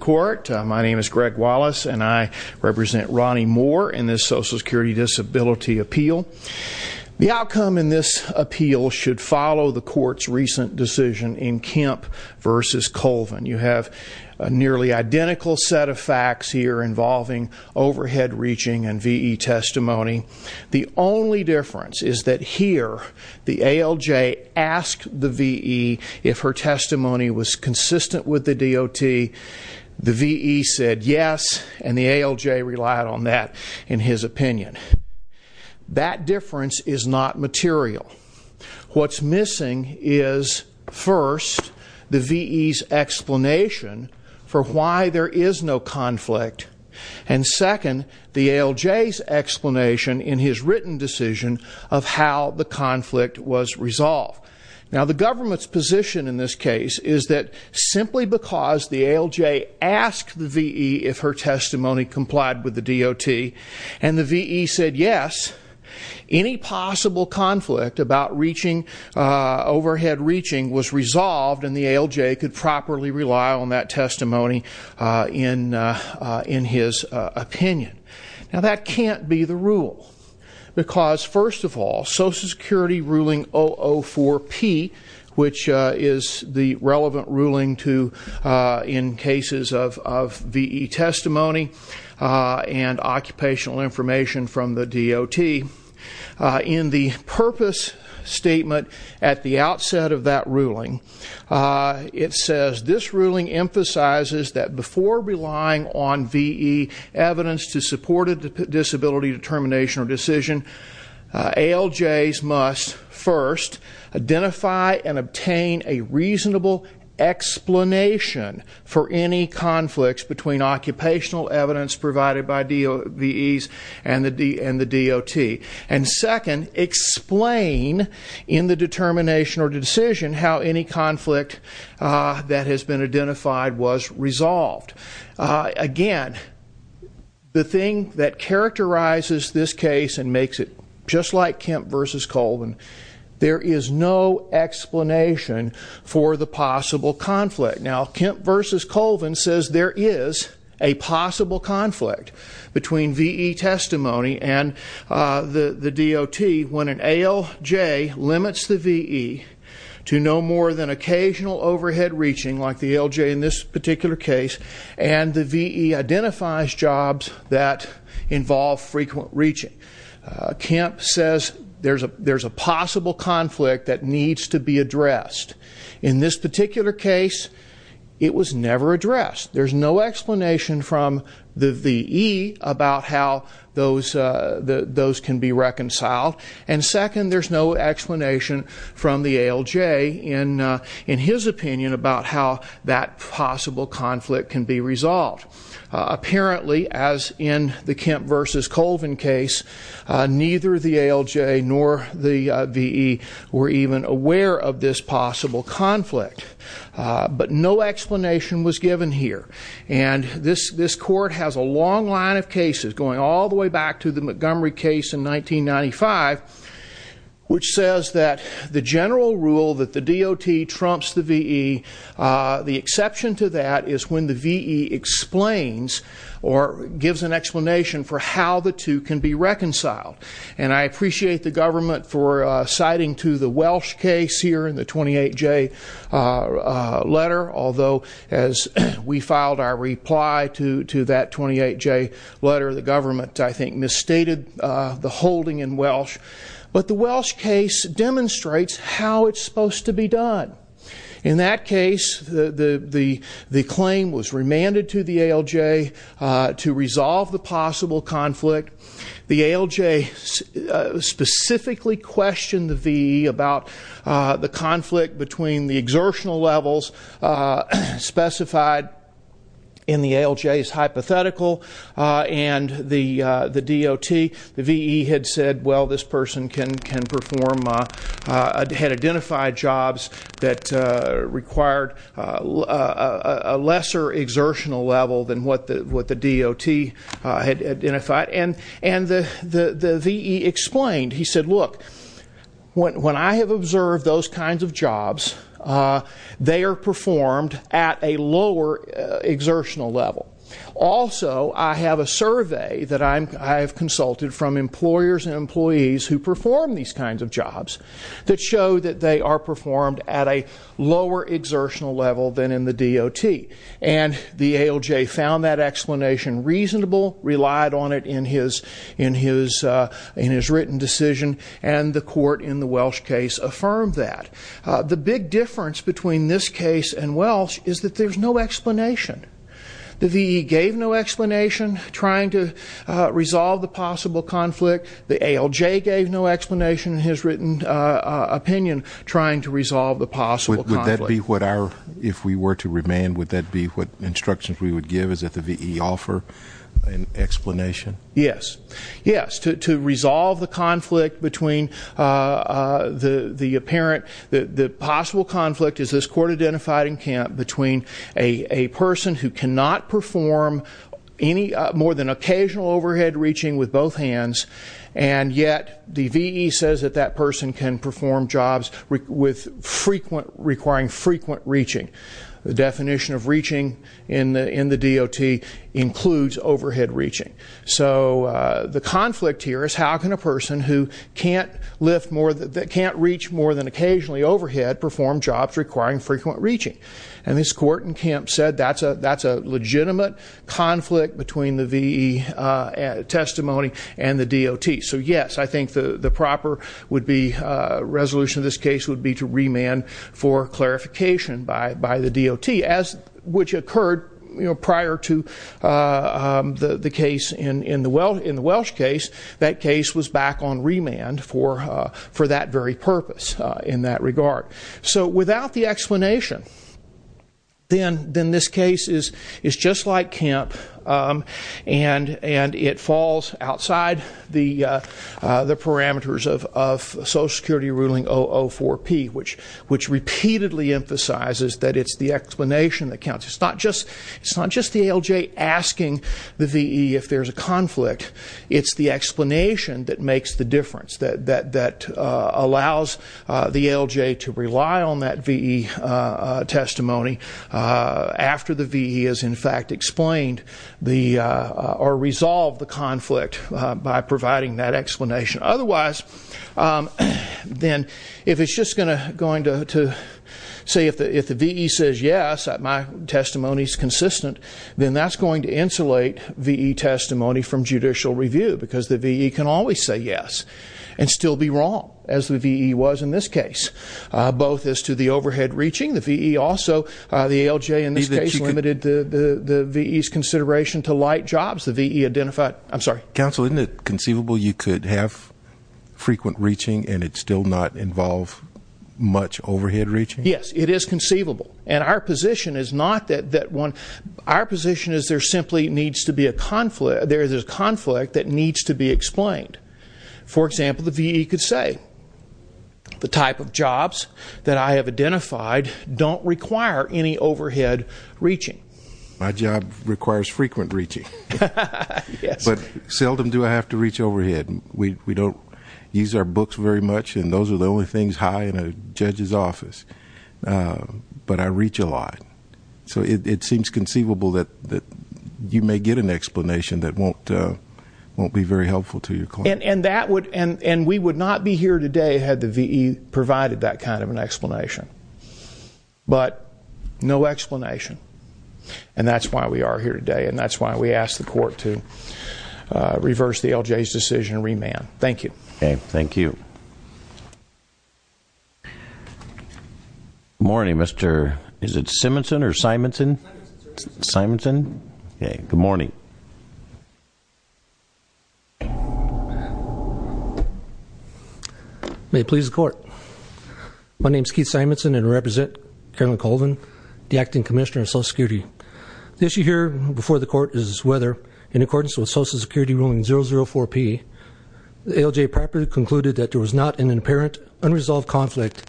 My name is Greg Wallace, and I represent Ronnie Moore in this Social Security Disability Appeal. The outcome in this appeal should follow the Court's recent decision in Kemp v. Colvin. You have a nearly identical set of facts here involving overhead reaching and V.E. testimony. The only difference is that here, the ALJ asked the V.E. if her testimony was consistent with the DOT. The V.E. said yes, and the ALJ relied on that in his opinion. That difference is not material. What's missing is, first, the V.E.'s explanation for why there is no conflict, and, second, the ALJ's explanation in his written decision of how the conflict was resolved. Now, the government's position in this case is that, simply because the ALJ asked the V.E. if her testimony complied with the DOT, and the V.E. said yes, any possible conflict about overhead reaching was resolved, and the ALJ could properly rely on that testimony in his opinion. Now, that can't be the rule, because, first of all, Social Security ruling 004-P, which is the relevant ruling in cases of V.E. testimony and occupational information from the DOT, in the purpose statement at the outset of that ruling, it says, this ruling emphasizes that before relying on V.E. evidence to support a disability determination or decision, ALJs must, first, identify and obtain a reasonable explanation for any conflicts between occupational evidence provided by V.E.s and the DOT, and, second, explain in the determination or decision how any conflict that has been identified was resolved. Again, the thing that characterizes this case and makes it just like Kemp v. Colvin, there is no explanation for the possible conflict. Now, Kemp v. Colvin says there is a possible conflict between V.E. testimony and the DOT when an ALJ limits the V.E. to no more than occasional overhead reaching, like the ALJ in this particular case, and the V.E. identifies jobs that involve frequent reaching. Kemp says there's a possible conflict that needs to be addressed. In this particular case, it was never addressed. There's no explanation from the V.E. about how those can be reconciled, and, second, there's no explanation from the ALJ in his opinion about how that possible conflict can be resolved. Apparently, as in the Kemp v. Colvin case, neither the ALJ nor the V.E. were even aware of this possible conflict, but no explanation was given here, and this court has a long line of cases going all the way back to the Montgomery case in 1995, which says that the general rule that the DOT trumps the V.E., the exception to that is when the V.E. explains or gives an explanation for how the two can be reconciled, and I appreciate the government for citing to the Welsh case here in the 28J letter, although as we filed our reply to that 28J letter, the government, I think, misstated the holding in Welsh, but the Welsh case demonstrates how it's supposed to be done. In that case, the claim was remanded to the ALJ to resolve the possible conflict. The ALJ specifically questioned the V.E. about the conflict between the exertional levels specified in the ALJ's hypothetical and the DOT. The V.E. had said, well, this person can perform, had identified jobs that required a lesser exertional level than what the DOT had identified, and the V.E. explained, he said, look, when I have observed those kinds of jobs, they are performed at a lower exertional level. Also, I have a survey that I have consulted from employers and employees who perform these kinds of jobs that show that they are performed at a lower exertional level than in the DOT, and the ALJ found that explanation reasonable, relied on it in his written decision, and the court in the Welsh case affirmed that. The big difference between this case and Welsh is that there's no explanation. The V.E. gave no explanation trying to resolve the possible conflict. The ALJ gave no explanation in his written opinion trying to resolve the possible conflict. Would that be what our, if we were to remand, would that be what instructions we would give, is that the V.E. offer an explanation? Yes. Yes. To resolve the conflict between the apparent, the possible conflict, as this court identified in Kemp, between a person who cannot perform any more than occasional overhead reaching with both hands, and yet the V.E. says that that person can perform jobs requiring frequent reaching. The definition of reaching in the DOT includes overhead reaching. So the conflict here is how can a person who can't reach more than occasionally overhead perform jobs requiring frequent reaching? And this court in Kemp said that's a legitimate conflict between the V.E. testimony and the DOT. So yes, I think the proper resolution of this case would be to remand for clarification by the DOT, which occurred prior to the case in the Welsh case. That case was back on remand for that very purpose in that regard. So without the explanation, then this case is just like Kemp, and it falls outside the parameters of Social Security ruling 004P, which repeatedly emphasizes that it's the explanation that counts. It's not just the ALJ asking the V.E. if there's a conflict. It's the explanation that makes the difference, that allows the ALJ to rely on that V.E. testimony after the V.E. has in fact explained or resolved the conflict by providing that explanation. Otherwise, then if it's just going to say if the V.E. says yes, that my testimony is consistent, then that's going to insulate V.E. testimony from judicial review, because the V.E. can always say yes and still be wrong, as the V.E. was in this case, both as to the overhead reaching. The V.E. also, the ALJ in this case limited the V.E.'s consideration to light jobs. The V.E. identified, I'm sorry. Counsel, isn't it conceivable you could have frequent reaching, and it still not involve much overhead reaching? Yes, it is conceivable, and our position is not that one, our position is there simply needs to be a conflict, there's a conflict that needs to be explained. For example, the V.E. could say, the type of jobs that I have identified don't require any overhead reaching. My job requires frequent reaching. Yes. I tell them, do I have to reach overhead? We don't use our books very much, and those are the only things high in a judge's office, but I reach a lot. So it seems conceivable that you may get an explanation that won't be very helpful to your client. And that would, and we would not be here today had the V.E. provided that kind of an explanation. But, no explanation. And that's why we are here today, and that's why we ask the court to reverse the LJ's decision and remand. Thank you. Okay, thank you. Good morning, Mr., is it Simonson or Simonson? Simonson, sir. Simonson? Okay, good morning. May it please the court. My name is Keith Simonson, and I represent Colonel Colvin, the Acting Commissioner of Social Security. The issue here before the court is whether, in accordance with Social Security ruling 004P, the ALJ properly concluded that there was not an apparent unresolved conflict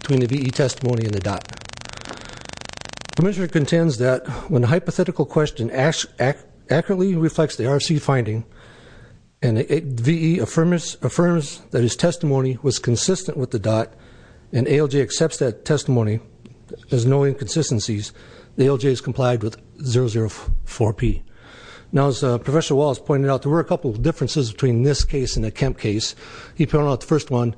between the V.E. testimony and the DOT. The Commissioner contends that when a hypothetical question accurately reflects the RFC finding, and the V.E. affirms that his testimony was consistent with the DOT, and ALJ accepts that testimony as knowing consistencies, the ALJ is complied with 004P. Now, as Professor Wallace pointed out, there were a couple of differences between this case and the Kemp case. He pointed out the first one.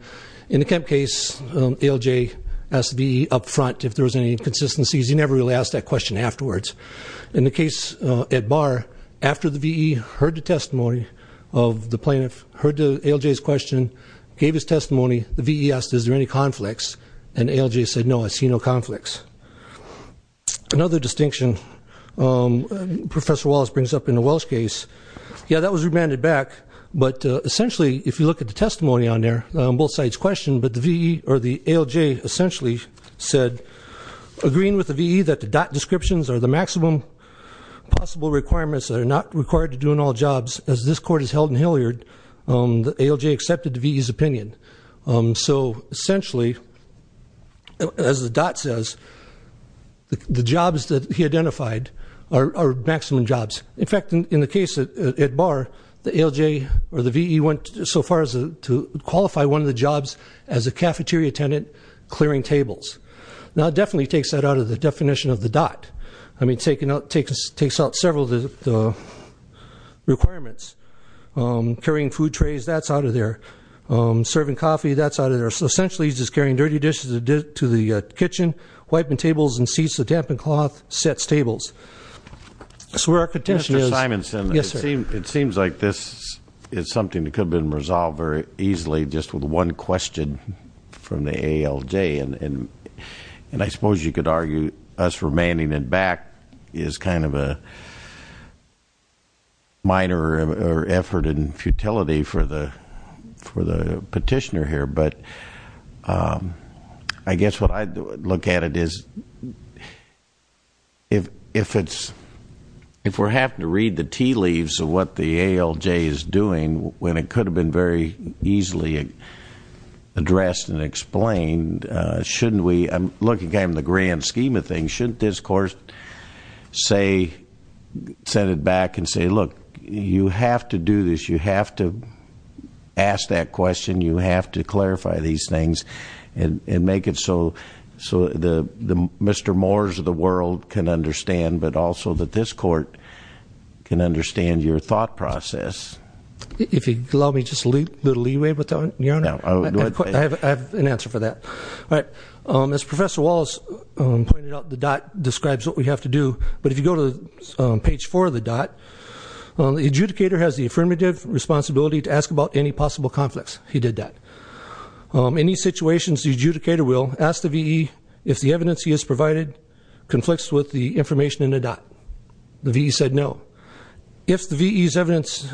In the Kemp case, ALJ asked the V.E. up front if there was any inconsistencies. He never really asked that question afterwards. In the case at Barr, after the V.E. heard the testimony of the plaintiff, heard the ALJ's question, gave his testimony, the V.E. asked, is there any conflicts? And ALJ said, no, I see no conflicts. Another distinction Professor Wallace brings up in the Welch case, yeah, that was remanded back, but essentially, if you look at the testimony on there, both sides questioned, but the V.E. or the ALJ essentially said, agreeing with the V.E. that the DOT descriptions are the maximum possible requirements that are not required to do in all jobs, as this court has held in Hilliard, the ALJ accepted the V.E.'s opinion. So essentially, as the DOT says, the jobs that he identified are maximum jobs. In fact, in the case at Barr, the ALJ or the V.E. went so far as to qualify one of the jobs as a cafeteria attendant clearing tables. Now, it definitely takes that out of the definition of the DOT. I mean, it takes out several of the requirements. Carrying food trays, that's out of there. Serving coffee, that's out of there. So essentially, he's just carrying dirty dishes to the kitchen, wiping tables and seats with dampened cloth, sets tables. So our contention is... Mr. Simonson, it seems like this is something that could have been resolved very easily just with one question from the ALJ. And I suppose you could argue us remanding it back is kind of a minor effort in futility for the petitioner here. But I guess what I'd look at it is, if we're having to read the tea leaves of what the ALJ is doing when it could have been very easily addressed and explained, shouldn't we... I'm looking at it in the grand scheme of things. Shouldn't this court send it back and say, look, you have to do this. You have to ask that question. You have to clarify these things and make it so Mr. Moore's of the world can understand, but also that this court can understand your thought process. If you'd allow me just a little leeway with that, Your Honor. I have an answer for that. All right. As Professor Wallace pointed out, But if you go to page four of the DOT, the adjudicator has the affirmative responsibility to ask about any possible conflicts. He did that. Any situations the adjudicator will ask the VE if the evidence he has provided conflicts with the information in the DOT. The VE said no. If the VE's evidence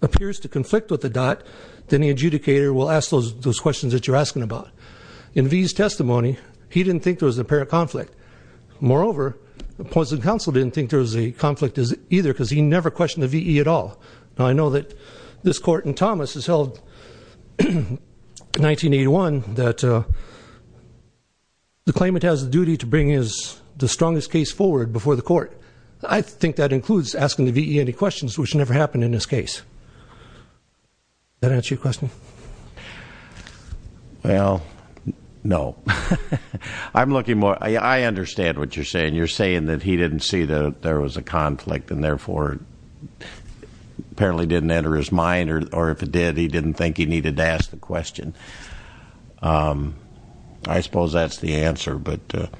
appears to conflict with the DOT, then the adjudicator will ask those questions that you're asking about. In VE's testimony, he didn't think there was a pair of conflict. Moreover, opposing counsel didn't think because he never questioned the VE at all. Now I know that this court in Thomas has held in 1981 that the claimant has the duty to bring the strongest case forward before the court. I think that includes asking the VE any questions which never happened in this case. Does that answer your question? Well, no. I'm looking more, I understand what you're saying. You're saying that he didn't see that there was a conflict or apparently didn't enter his mind or if it did, he didn't think he needed to ask the question. I suppose that's the answer, but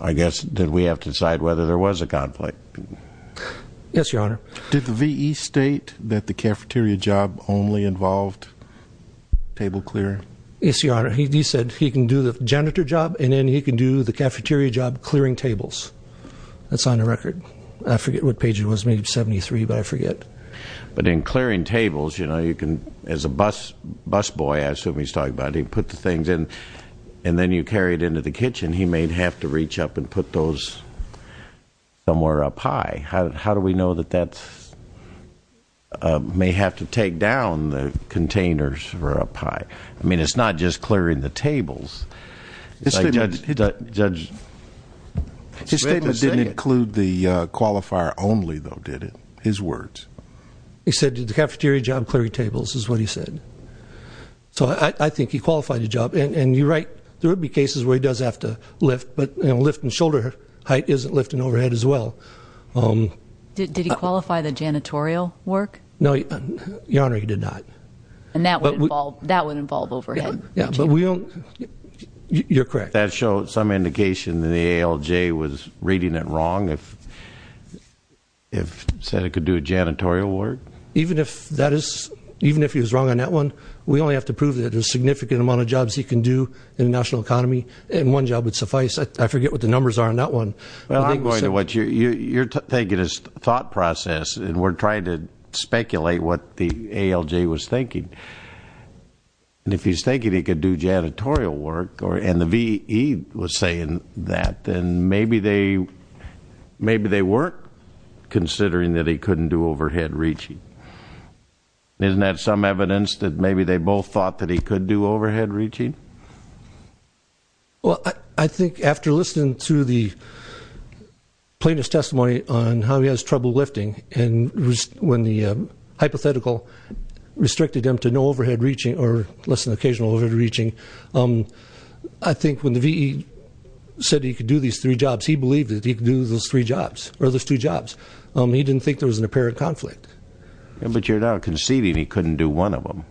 I guess that we have to decide whether there was a conflict. Yes, Your Honor. Did the VE state that the cafeteria job only involved table clearing? Yes, Your Honor. He said he can do the janitor job and then he can do the cafeteria job clearing tables. That's on the record. I forget what page it was. Maybe 73, but I forget. But in clearing tables, you know, as a bus boy, I assume he's talking about, he put the things in and then you carry it into the kitchen. He may have to reach up and put those somewhere up high. How do we know that that may have to take down the containers or up high? I mean, it's not just clearing the tables. Judge... His statement didn't include the qualifier only, though, did it? His words. He said the cafeteria job clearing tables is what he said. So I think he qualified the job. And you're right, there would be cases where he does have to lift, but lifting shoulder height isn't lifting overhead as well. Did he qualify the janitorial work? No, Your Honor, he did not. And that would involve overhead. Yeah, but we don't... You're correct. Does that show some indication that the ALJ was reading it wrong if he said he could do janitorial work? Even if he was wrong on that one, we only have to prove that there's a significant amount of jobs he can do in the national economy and one job would suffice. I forget what the numbers are on that one. You're taking his thought process and we're trying to speculate what the ALJ was thinking. And if he's thinking he could do janitorial work and he was saying that, then maybe they weren't considering that he couldn't do overhead reaching. Isn't that some evidence that maybe they both thought that he could do overhead reaching? Well, I think after listening to the plaintiff's testimony on how he has trouble lifting and when the hypothetical restricted him to no overhead reaching or less than occasional overhead reaching, I think when the VE said he could do these three jobs, he believed that he could do those three jobs or those two jobs. He didn't think there was an apparent conflict. But you're now conceding he couldn't do one of them.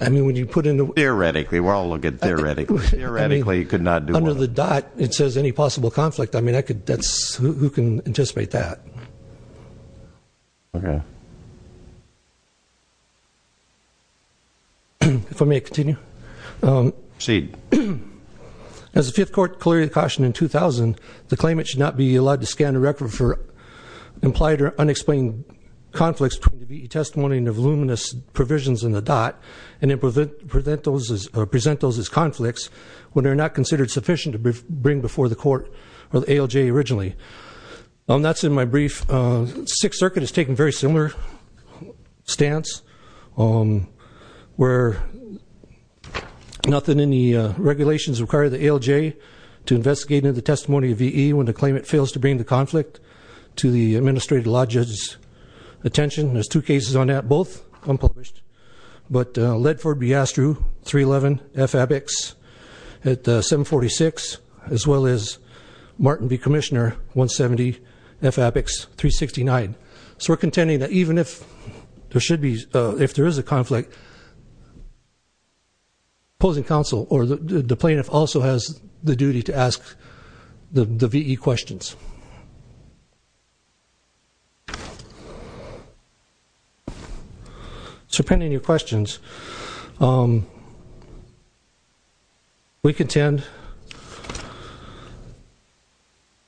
I mean, when you put in the... Theoretically, we're all looking at theoretically. Theoretically, he could not do one. Under the dot, it says any possible conflict. I mean, who can anticipate that? Okay. If I may continue. Proceed. As the Fifth Court clearly cautioned in 2000, the claimant should not be allowed to scan a record for implied or unexplained conflicts between the VE testimony and voluminous provisions in the dot and present those as conflicts when they're not considered sufficient to bring before the court or the ALJ originally. That's in my brief. Sixth Circuit has taken very similar stance where nothing in the regulations require the ALJ to investigate into the testimony of VE when the claimant fails to bring the conflict to the administrative law judge's attention. There's two cases on that, both unpublished. But Ledford v. Astru, 311, F. Abbotts, at 746, as well as Martin v. Commissioner, So we're contending that even if the VE testimony is a conflict, even if there should be, if there is a conflict, opposing counsel or the plaintiff also has the duty to ask the VE questions. So pending your questions, we contend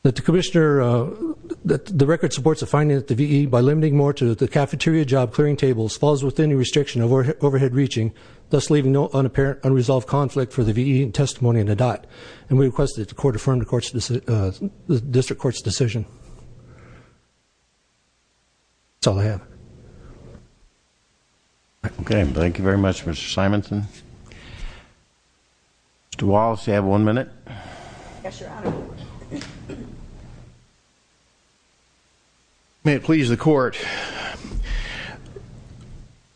that the commissioner, that the record supports the finding that the VE by limiting more to the cafeteria job clearing tables falls within the restriction of overhead reaching, thus leaving no unresolved conflict for the VE testimony in the DOT. And we request that the court affirm the district court's decision. That's all I have. Okay. Thank you very much, Mr. Simonson. Mr. Wallace, you have one minute. Yes, Your Honor. May it please the court.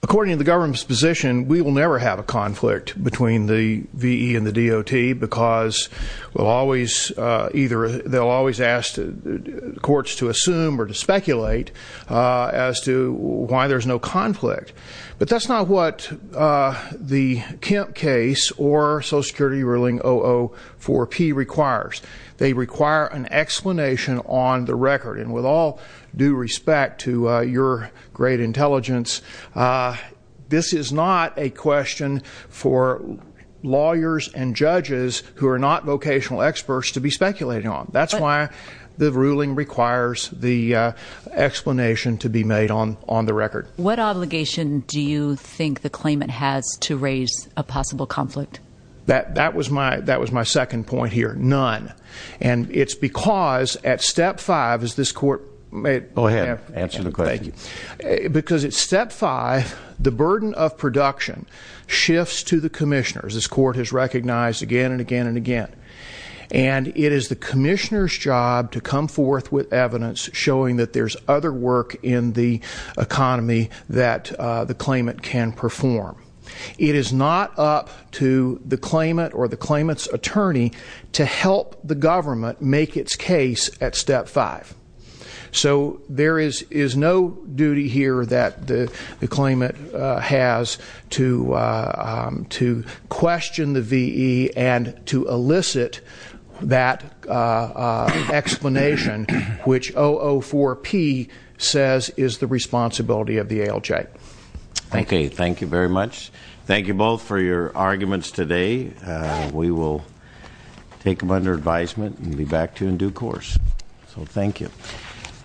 According to the government's position, we will never have a conflict between the VE and the DOT because we'll always, either they'll always ask the courts to assume or to speculate as to why there's no conflict. But that's not what the Kemp case or Social Security ruling 004P requires. They require an explanation on the record. With due respect to your great intelligence, this is not a question for lawyers and judges who are not vocational experts to be speculating on. That's why the ruling requires the explanation to be made on the record. What obligation do you think the claimant has to raise a possible conflict? That was my second point here. None. And it's because at step five, as this court may have... Go ahead, answer the question. Because at step five, the burden of production shifts to the commissioners. This court has recognized again and again and again. And it is the commissioner's job to come forth with evidence showing that there's other work in the economy that the claimant can perform. It is not up to the claimant or the claimant's attorney to have the government make its case at step five. So there is no duty here that the claimant has to question the V.E. and to elicit that explanation, which O04P says is the responsibility of the ALJ. Okay, thank you very much. Thank you both for your arguments today. We will take them under advice and be back to you in due course. So thank you.